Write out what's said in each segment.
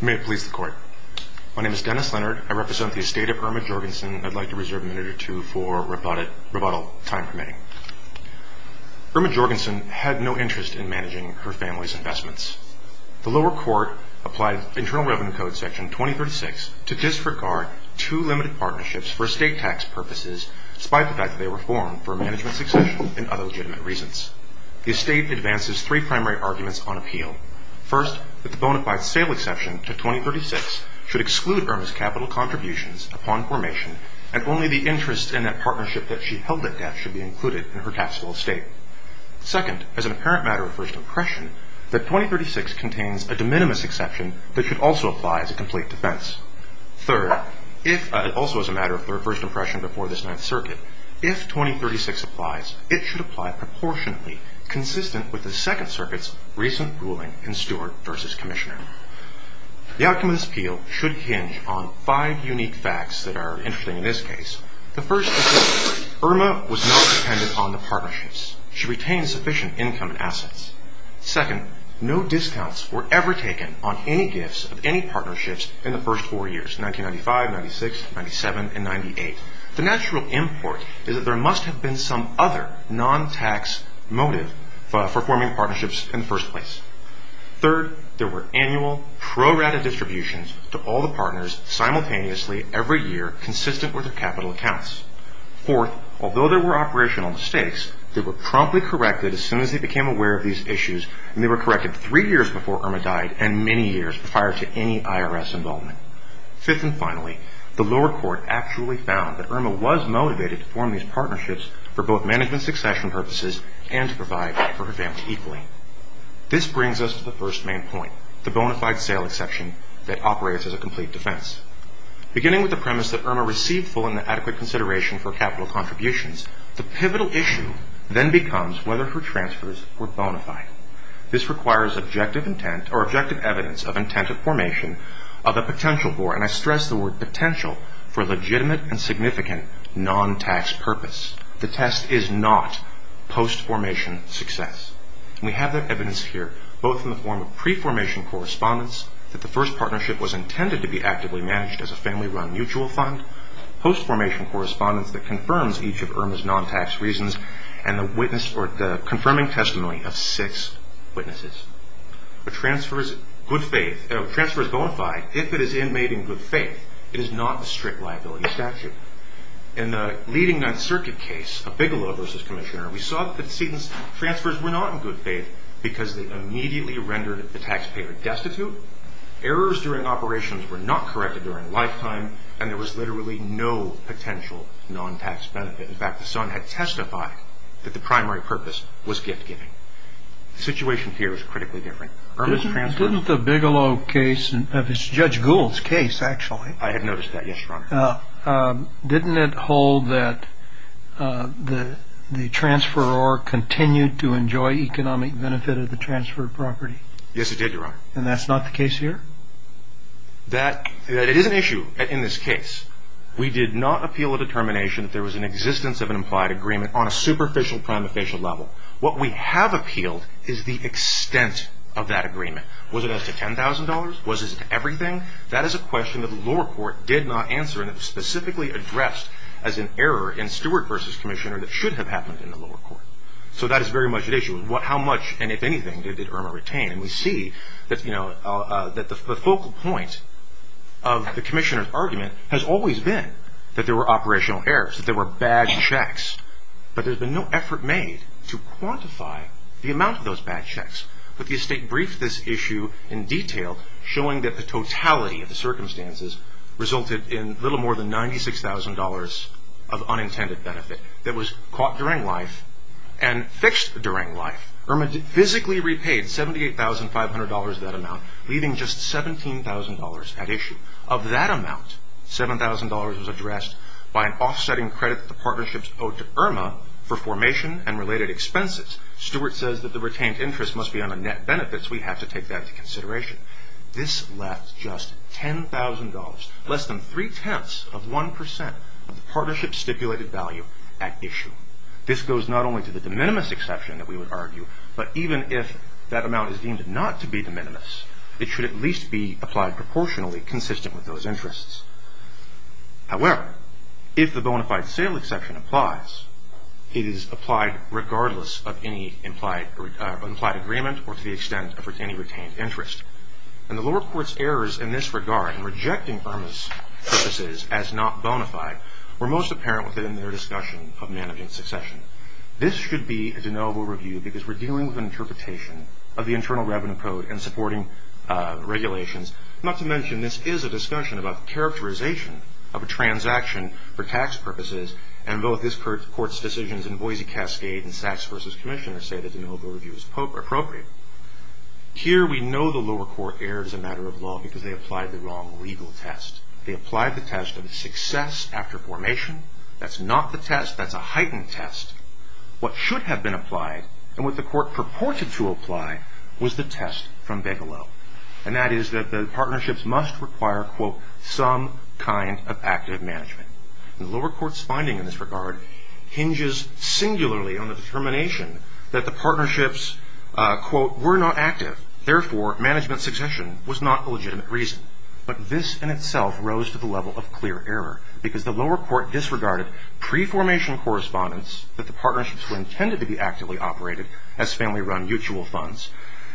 May it please the Court. My name is Dennis Leonard. I represent the estate of Erma Jorgensen. I'd like to reserve a minute or two for rebuttal time permitting. Erma Jorgensen had no interest in managing her family's investments. The lower court applied Internal Revenue Code Section 2036 to disregard two limited partnerships for estate tax purposes, despite the fact that they were formed for management succession and other legitimate reasons. The estate advances three primary arguments on appeal. First, that the bona fide sale exception to 2036 should exclude Erma's capital contributions upon formation, and only the interest in that partnership that she held it at should be included in her taxable estate. Second, as an apparent matter of first impression, that 2036 contains a de minimis exception that should also apply as a complete defense. Third, also as a matter of first impression before this Ninth Circuit, if 2036 applies, it should apply proportionately, consistent with the Second Circuit's recent ruling in Stewart v. Commissioner. The outcome of this appeal should hinge on five unique facts that are interesting in this case. The first is that Erma was not dependent on the partnerships. She retained sufficient income and assets. Second, no discounts were ever taken on any gifts of any partnerships in the first four years, 1995, 1996, 1997, and 1998. The natural import is that there must have been some other non-tax motive for forming partnerships in the first place. Third, there were annual prorated distributions to all the partners simultaneously every year, consistent with their capital accounts. Fourth, although there were operational mistakes, they were promptly corrected as soon as they became aware of these issues, and they were corrected three years before Erma died and many years prior to any IRS involvement. Fifth and finally, the lower court actually found that Erma was motivated to form these partnerships for both management succession purposes and to provide for her family equally. This brings us to the first main point, the bona fide sale exception that operates as a complete defense. Beginning with the premise that Erma received full and adequate consideration for capital contributions, the pivotal issue then becomes whether her transfers were bona fide. This requires objective intent or objective evidence of intent of formation of a potential for, and I stress the word potential, for legitimate and significant non-tax purpose. The test is not post-formation success. We have that evidence here, both in the form of pre-formation correspondence, that the first partnership was intended to be actively managed as a family-run mutual fund, post-formation correspondence that confirms each of Erma's non-tax reasons, and the confirming testimony of six witnesses. A transfer is bona fide if it is made in good faith. It is not a strict liability statute. In the leading Ninth Circuit case of Bigelow v. Commissioner, we saw that the transfers were not in good faith because they immediately rendered the taxpayer destitute, errors during operations were not corrected during lifetime, and there was literally no potential non-tax benefit. In fact, the son had testified that the primary purpose was gift-giving. The situation here is critically different. Didn't the Bigelow case, Judge Gould's case actually, I had noticed that, yes, Your Honor. Didn't it hold that the transferor continued to enjoy economic benefit of the transferred property? Yes, it did, Your Honor. And that's not the case here? That is an issue in this case. We did not appeal a determination that there was an existence of an implied agreement on a superficial, What we have appealed is the extent of that agreement. Was it as to $10,000? Was it to everything? That is a question that the lower court did not answer, and it was specifically addressed as an error in Stewart v. Commissioner that should have happened in the lower court. So that is very much at issue. How much, and if anything, did Irma retain? And we see that the focal point of the Commissioner's argument has always been that there were operational errors, that there were bad checks. But there's been no effort made to quantify the amount of those bad checks. But the estate briefed this issue in detail, showing that the totality of the circumstances resulted in little more than $96,000 of unintended benefit that was caught during life and fixed during life. Irma physically repaid $78,500 of that amount, leaving just $17,000 at issue. Of that amount, $7,000 was addressed by an offsetting credit that the partnerships owed to Irma for formation and related expenses. Stewart says that the retained interest must be on the net benefits. We have to take that into consideration. This left just $10,000, less than three-tenths of 1% of the partnership's stipulated value at issue. This goes not only to the de minimis exception that we would argue, but even if that amount is deemed not to be de minimis, it should at least be applied proportionally consistent with those interests. However, if the bona fide sale exception applies, it is applied regardless of any implied agreement or to the extent of any retained interest. And the lower court's errors in this regard in rejecting Irma's purposes as not bona fide were most apparent within their discussion of managing succession. This should be a deniable review because we're dealing with an interpretation of the Internal Revenue Code and supporting regulations. Not to mention, this is a discussion about the characterization of a transaction for tax purposes, and both this court's decisions in Boise Cascade and Sachs v. Commissioner say that the deniable review is appropriate. Here, we know the lower court erred as a matter of law because they applied the wrong legal test. They applied the test of success after formation. That's not the test. That's a heightened test. What should have been applied and what the court purported to apply was the test from Begelow, and that is that the partnerships must require, quote, some kind of active management. The lower court's finding in this regard hinges singularly on the determination that the partnerships, quote, were not active, therefore, management succession was not a legitimate reason. But this in itself rose to the level of clear error because the lower court disregarded pre-formation correspondence that the partnerships were intended to be actively operated as family-run mutual funds.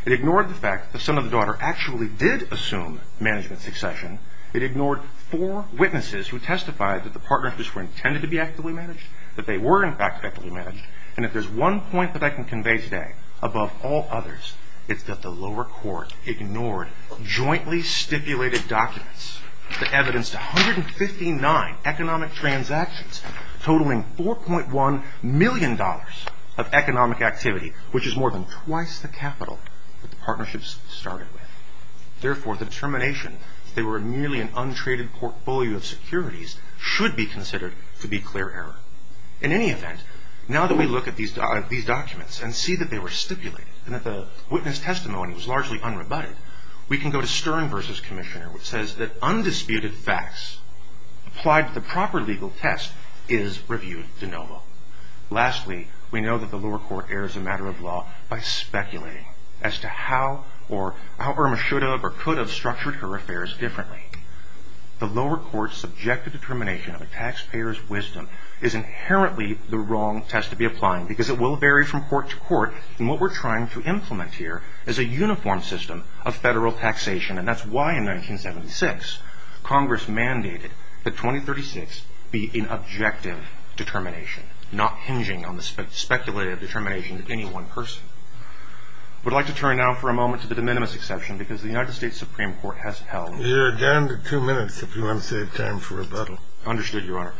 It ignored the fact that some of the daughter actually did assume management succession. It ignored four witnesses who testified that the partnerships were intended to be actively managed, that they were, in fact, actively managed. And if there's one point that I can convey today above all others, it's that the lower court ignored jointly stipulated documents, the evidence to 159 economic transactions, totaling $4.1 million of economic activity, which is more than twice the capital that the partnerships started with. Therefore, the determination that they were merely an untraded portfolio of securities should be considered to be clear error. In any event, now that we look at these documents and see that they were stipulated and that the witness testimony was largely unrebutted, we can go to Stern v. Commissioner, which says that undisputed facts applied to the proper legal test is reviewed de novo. Lastly, we know that the lower court errs a matter of law by speculating as to how or how Irma should have or could have structured her affairs differently. The lower court's subjective determination of a taxpayer's wisdom is inherently the wrong test to be applying because it will vary from court to court and what we're trying to implement here is a uniform system of federal taxation and that's why in 1976 Congress mandated that 2036 be an objective determination, not hinging on the speculative determination of any one person. I would like to turn now for a moment to the de minimis exception because the United States Supreme Court has held... You're down to two minutes if you want to save time for rebuttal. Understood, Your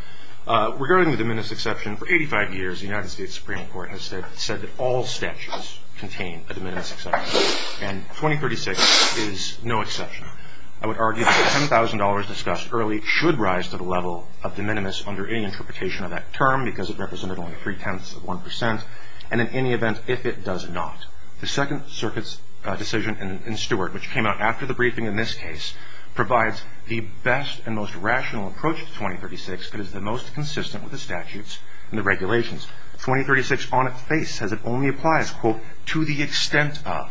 Honor. Regarding the de minimis exception, for 85 years the United States Supreme Court has said that all statutes contain a de minimis exception and 2036 is no exception. I would argue that the $10,000 discussed early should rise to the level of de minimis under any interpretation of that term because it represented only three-tenths of 1% and in any event, if it does not. The Second Circuit's decision in Stewart, which came out after the briefing in this case, provides the best and most rational approach to 2036 because it's the most consistent with the statutes and the regulations. 2036 on its face says it only applies, quote, to the extent of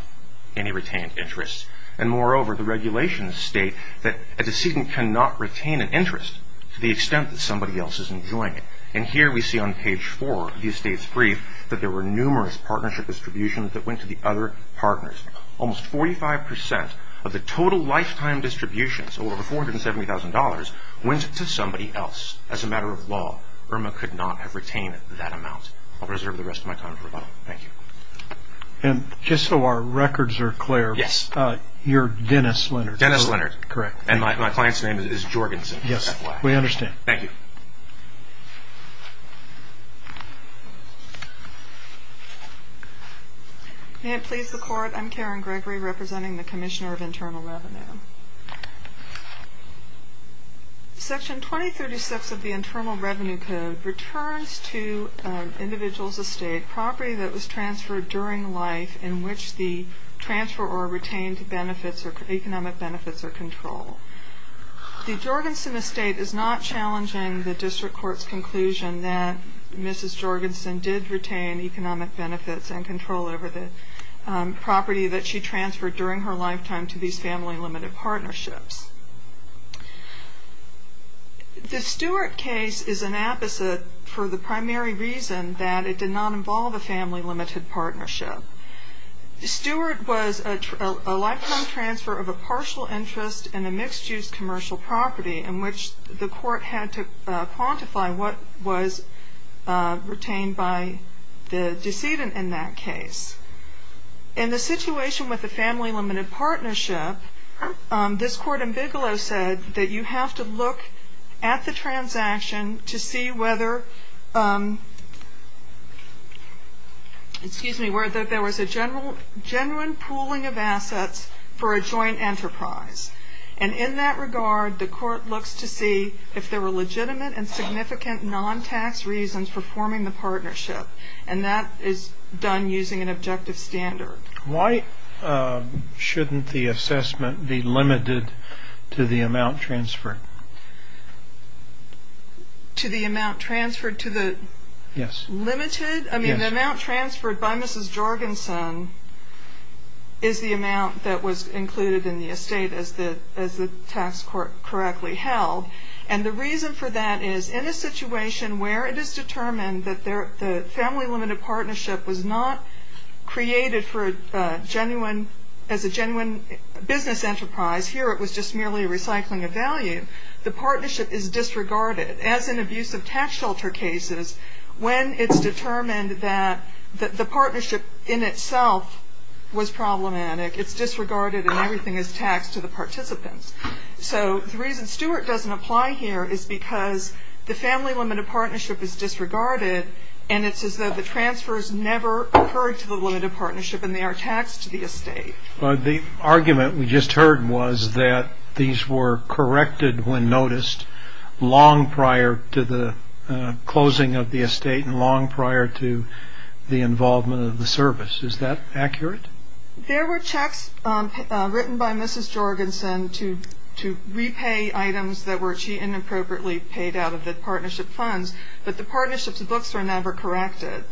any retained interest and moreover the regulations state that a decedent cannot retain an interest to the extent that somebody else is enjoying it and here we see on page four of the estate's brief that there were numerous partnership distributions that went to the other partners. Almost 45% of the total lifetime distributions, over $470,000, went to somebody else. As a matter of law, Irma could not have retained that amount. I'll reserve the rest of my time for rebuttal. Thank you. And just so our records are clear, you're Dennis Leonard. Dennis Leonard. Correct. And my client's name is Jorgensen. Yes. We understand. Thank you. May it please the Court, I'm Karen Gregory representing the Commissioner of Internal Revenue. Section 2036 of the Internal Revenue Code returns to individuals' estate property that was transferred during life in which the transferor retained benefits or economic benefits or control. The Jorgensen estate is not challenging the District Court's conclusion that Mrs. Jorgensen did retain economic benefits and control over the property that she transferred during her lifetime to these family-limited partnerships. The Stewart case is an apposite for the primary reason that it did not involve a family-limited partnership. Stewart was a lifetime transfer of a partial interest in a mixed-use commercial property in which the Court had to quantify what was retained by the decedent in that case. In the situation with the family-limited partnership, this Court ambiguously said that you have to look at the transaction to see whether there was a genuine pooling of assets for a joint enterprise. And in that regard, the Court looks to see if there were legitimate and significant non-tax reasons for forming the partnership. And that is done using an objective standard. Why shouldn't the assessment be limited to the amount transferred? To the amount transferred? Yes. Limited? Yes. I mean, the amount transferred by Mrs. Jorgensen is the amount that was included in the estate as the tax court correctly held. And the reason for that is in a situation where it is determined that the family-limited partnership was not created as a genuine business enterprise. Here it was just merely a recycling of value. The partnership is disregarded as in abusive tax shelter cases when it's determined that the partnership in itself was problematic. It's disregarded and everything is taxed to the participants. So the reason Stewart doesn't apply here is because the family-limited partnership is disregarded and it's as though the transfers never occurred to the limited partnership and they are taxed to the estate. The argument we just heard was that these were corrected when noticed long prior to the closing of the estate and long prior to the involvement of the service. Is that accurate? There were checks written by Mrs. Jorgensen to repay items that were inappropriately paid out of the partnership funds, but the partnership's books were never corrected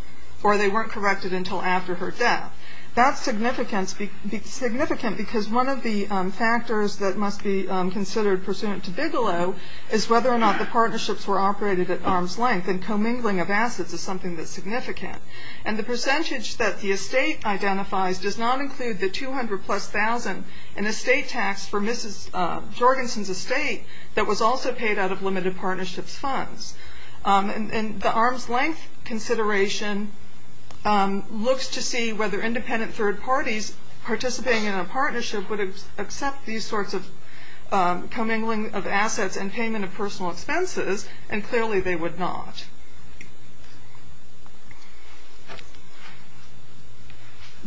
or they weren't corrected until after her death. That's significant because one of the factors that must be considered pursuant to Bigelow is whether or not the partnerships were operated at arm's length and commingling of assets is something that's significant. And the percentage that the estate identifies does not include the 200 plus thousand an estate tax for Mrs. Jorgensen's estate that was also paid out of limited partnerships' funds. And the arm's length consideration looks to see whether independent third parties participating in a partnership would accept these sorts of commingling of assets and payment of personal expenses, and clearly they would not.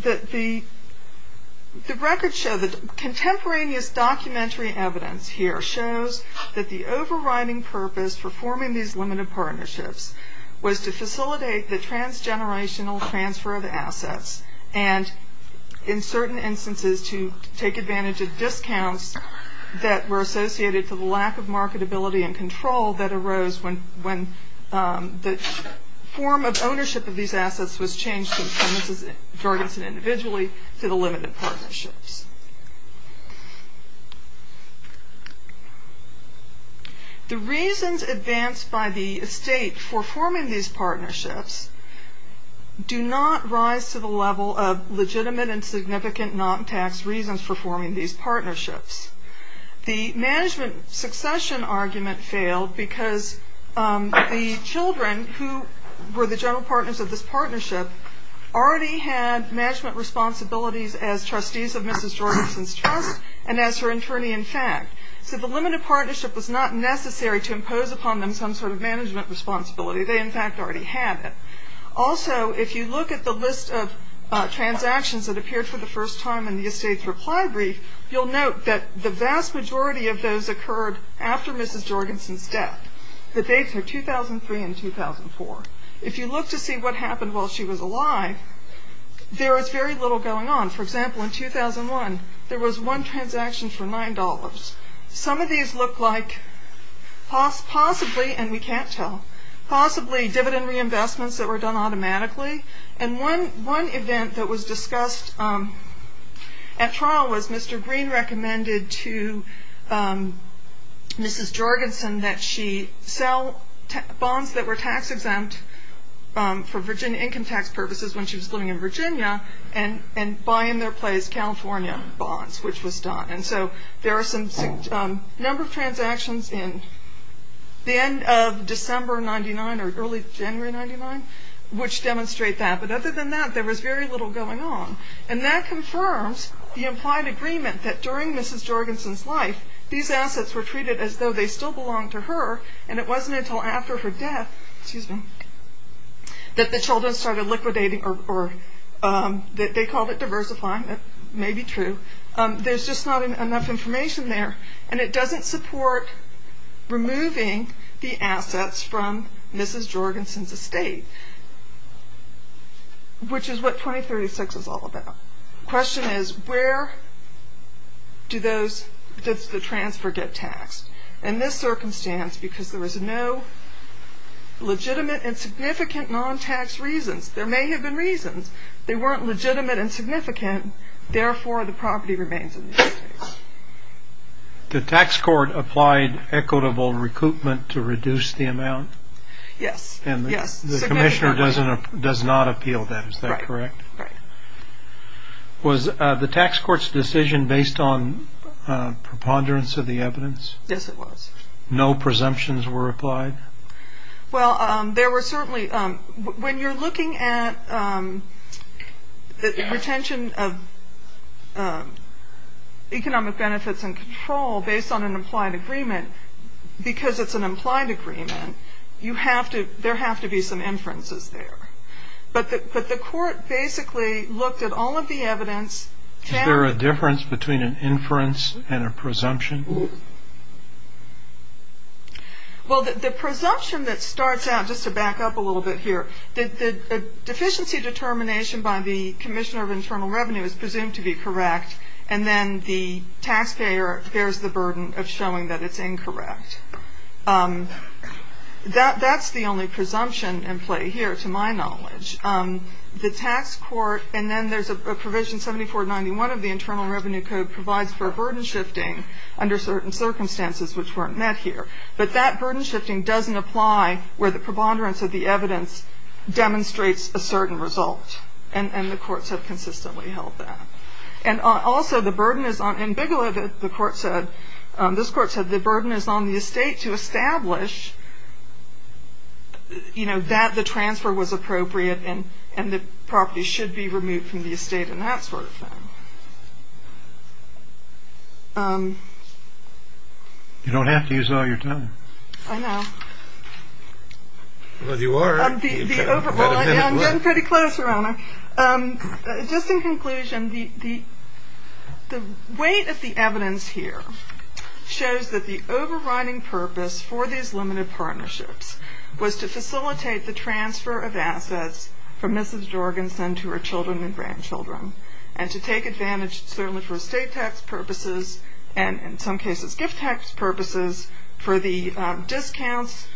The record shows, the contemporaneous documentary evidence here shows that the overriding purpose for forming these limited partnerships was to facilitate the transgenerational transfer of assets and in certain instances to take advantage of discounts that were associated to the lack of marketability and control that arose when the assets were transferred. The form of ownership of these assets was changed from Mrs. Jorgensen individually to the limited partnerships. The reasons advanced by the estate for forming these partnerships do not rise to the level of legitimate and significant non-tax reasons for forming these partnerships. The management succession argument failed because the children who were the general partners of this partnership already had management responsibilities as trustees of Mrs. Jorgensen's trust and as her attorney in fact. So the limited partnership was not necessary to impose upon them some sort of management responsibility. They in fact already had it. Also, if you look at the list of transactions that appeared for the first time in the estate's reply brief, you'll note that the vast majority of those occurred after Mrs. Jorgensen's death. The dates are 2003 and 2004. If you look to see what happened while she was alive, there is very little going on. For example, in 2001, there was one transaction for $9. Some of these look like possibly, and we can't tell, possibly dividend reinvestments that were done automatically. And one event that was discussed at trial was Mr. Green recommended to Mrs. Jorgensen that she sell bonds that were tax-exempt for income tax purposes when she was living in Virginia and buy in their place California bonds, which was done. And so there are a number of transactions in the end of December 1999 or early January 1999 which demonstrate that. But other than that, there was very little going on. And that confirms the implied agreement that during Mrs. Jorgensen's life, these assets were treated as though they still belonged to her and it wasn't until after her death, excuse me, that the children started liquidating or they called it diversifying. That may be true. There's just not enough information there. And it doesn't support removing the assets from Mrs. Jorgensen's estate, which is what 2036 is all about. The question is, where does the transfer get taxed? In this circumstance, because there was no legitimate and significant non-tax reasons, there may have been reasons, they weren't legitimate and significant. Therefore, the property remains in the estate. The tax court applied equitable recoupment to reduce the amount? Yes. And the commissioner does not appeal that. Is that correct? Right. Was the tax court's decision based on preponderance of the evidence? Yes, it was. No presumptions were applied? Well, there were certainly, when you're looking at the retention of economic benefits and control based on an implied agreement, because it's an implied agreement, you have to, there have to be some inferences there. But the court basically looked at all of the evidence. Is there a difference between an inference and a presumption? Well, the presumption that starts out, just to back up a little bit here, the deficiency determination by the commissioner of internal revenue is presumed to be correct, and then the taxpayer bears the burden of showing that it's incorrect. That's the only presumption in play here, to my knowledge. The tax court, and then there's a provision, 7491 of the Internal Revenue Code, provides for burden shifting under certain circumstances which weren't met here. But that burden shifting doesn't apply where the preponderance of the evidence demonstrates a certain result, and the courts have consistently held that. And also the burden is on, in Bigelow, the court said, this court said, the burden is on the estate to establish, you know, that the transfer was appropriate and the property should be removed from the estate and that sort of thing. You don't have to use all your time. I know. Well, you are. I'm getting pretty close, Your Honor. Just in conclusion, the weight of the evidence here shows that the overriding purpose for these limited partnerships was to facilitate the transfer of assets from Mrs. Jorgensen to her children and grandchildren and to take advantage, certainly for estate tax purposes and in some cases gift tax purposes, for the discounts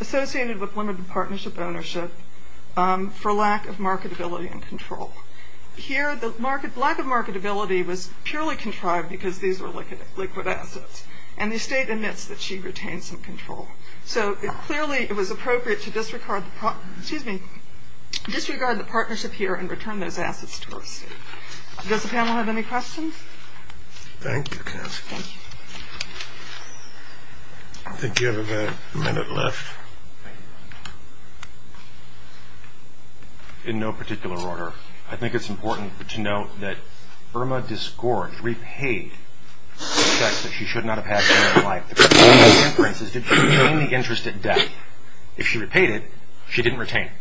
associated with limited partnership ownership for lack of marketability and control. Here the lack of marketability was purely contrived because these were liquid assets, and the estate admits that she retained some control. So clearly it was appropriate to disregard the partnership here and return those assets to the estate. Does the panel have any questions? Thank you, counsel. I think you have about a minute left. In no particular order, I think it's important to note that Irma disgorged, that she repaid the checks that she should not have had during her life. The question is, did she retain the interest at debt? If she repaid it, she didn't retain it.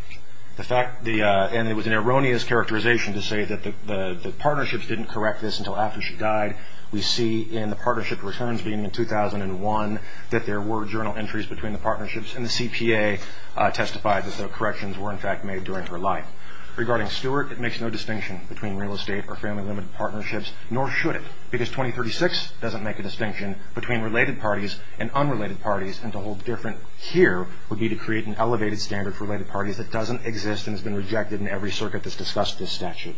And it was an erroneous characterization to say that the partnerships didn't correct this until after she died. We see in the partnership returns being in 2001 that there were journal entries between the partnerships, and the CPA testified that the corrections were, in fact, made during her life. Regarding Stewart, it makes no distinction between real estate or family-limited partnerships, nor should it, because 2036 doesn't make a distinction between related parties and unrelated parties, and to hold different here would be to create an elevated standard for related parties that doesn't exist and has been rejected in every circuit that's discussed this statute.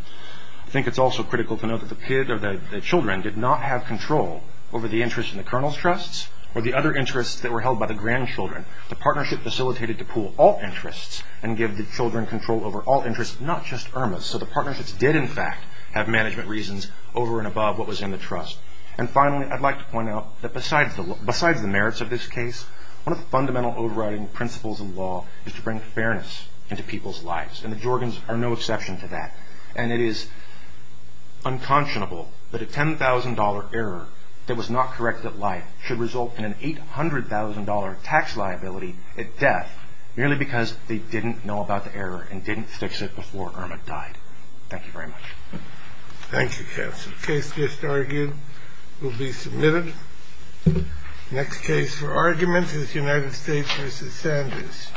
I think it's also critical to note that the children did not have control over the interest in the colonel's trusts or the other interests that were held by the grandchildren. The partnership facilitated to pool all interests and give the children control over all interests, not just Irma's. So the partnerships did, in fact, have management reasons over and above what was in the trust. And finally, I'd like to point out that besides the merits of this case, one of the fundamental overriding principles of law is to bring fairness into people's lives, and the Jorgens are no exception to that. And it is unconscionable that a $10,000 error that was not corrected at life should result in an $800,000 tax liability at death merely because they didn't know about the error and didn't fix it before Irma died. Thank you very much. Thank you, counsel. Case just argued will be submitted. Next case for argument is United States v. Sanders. Thank you.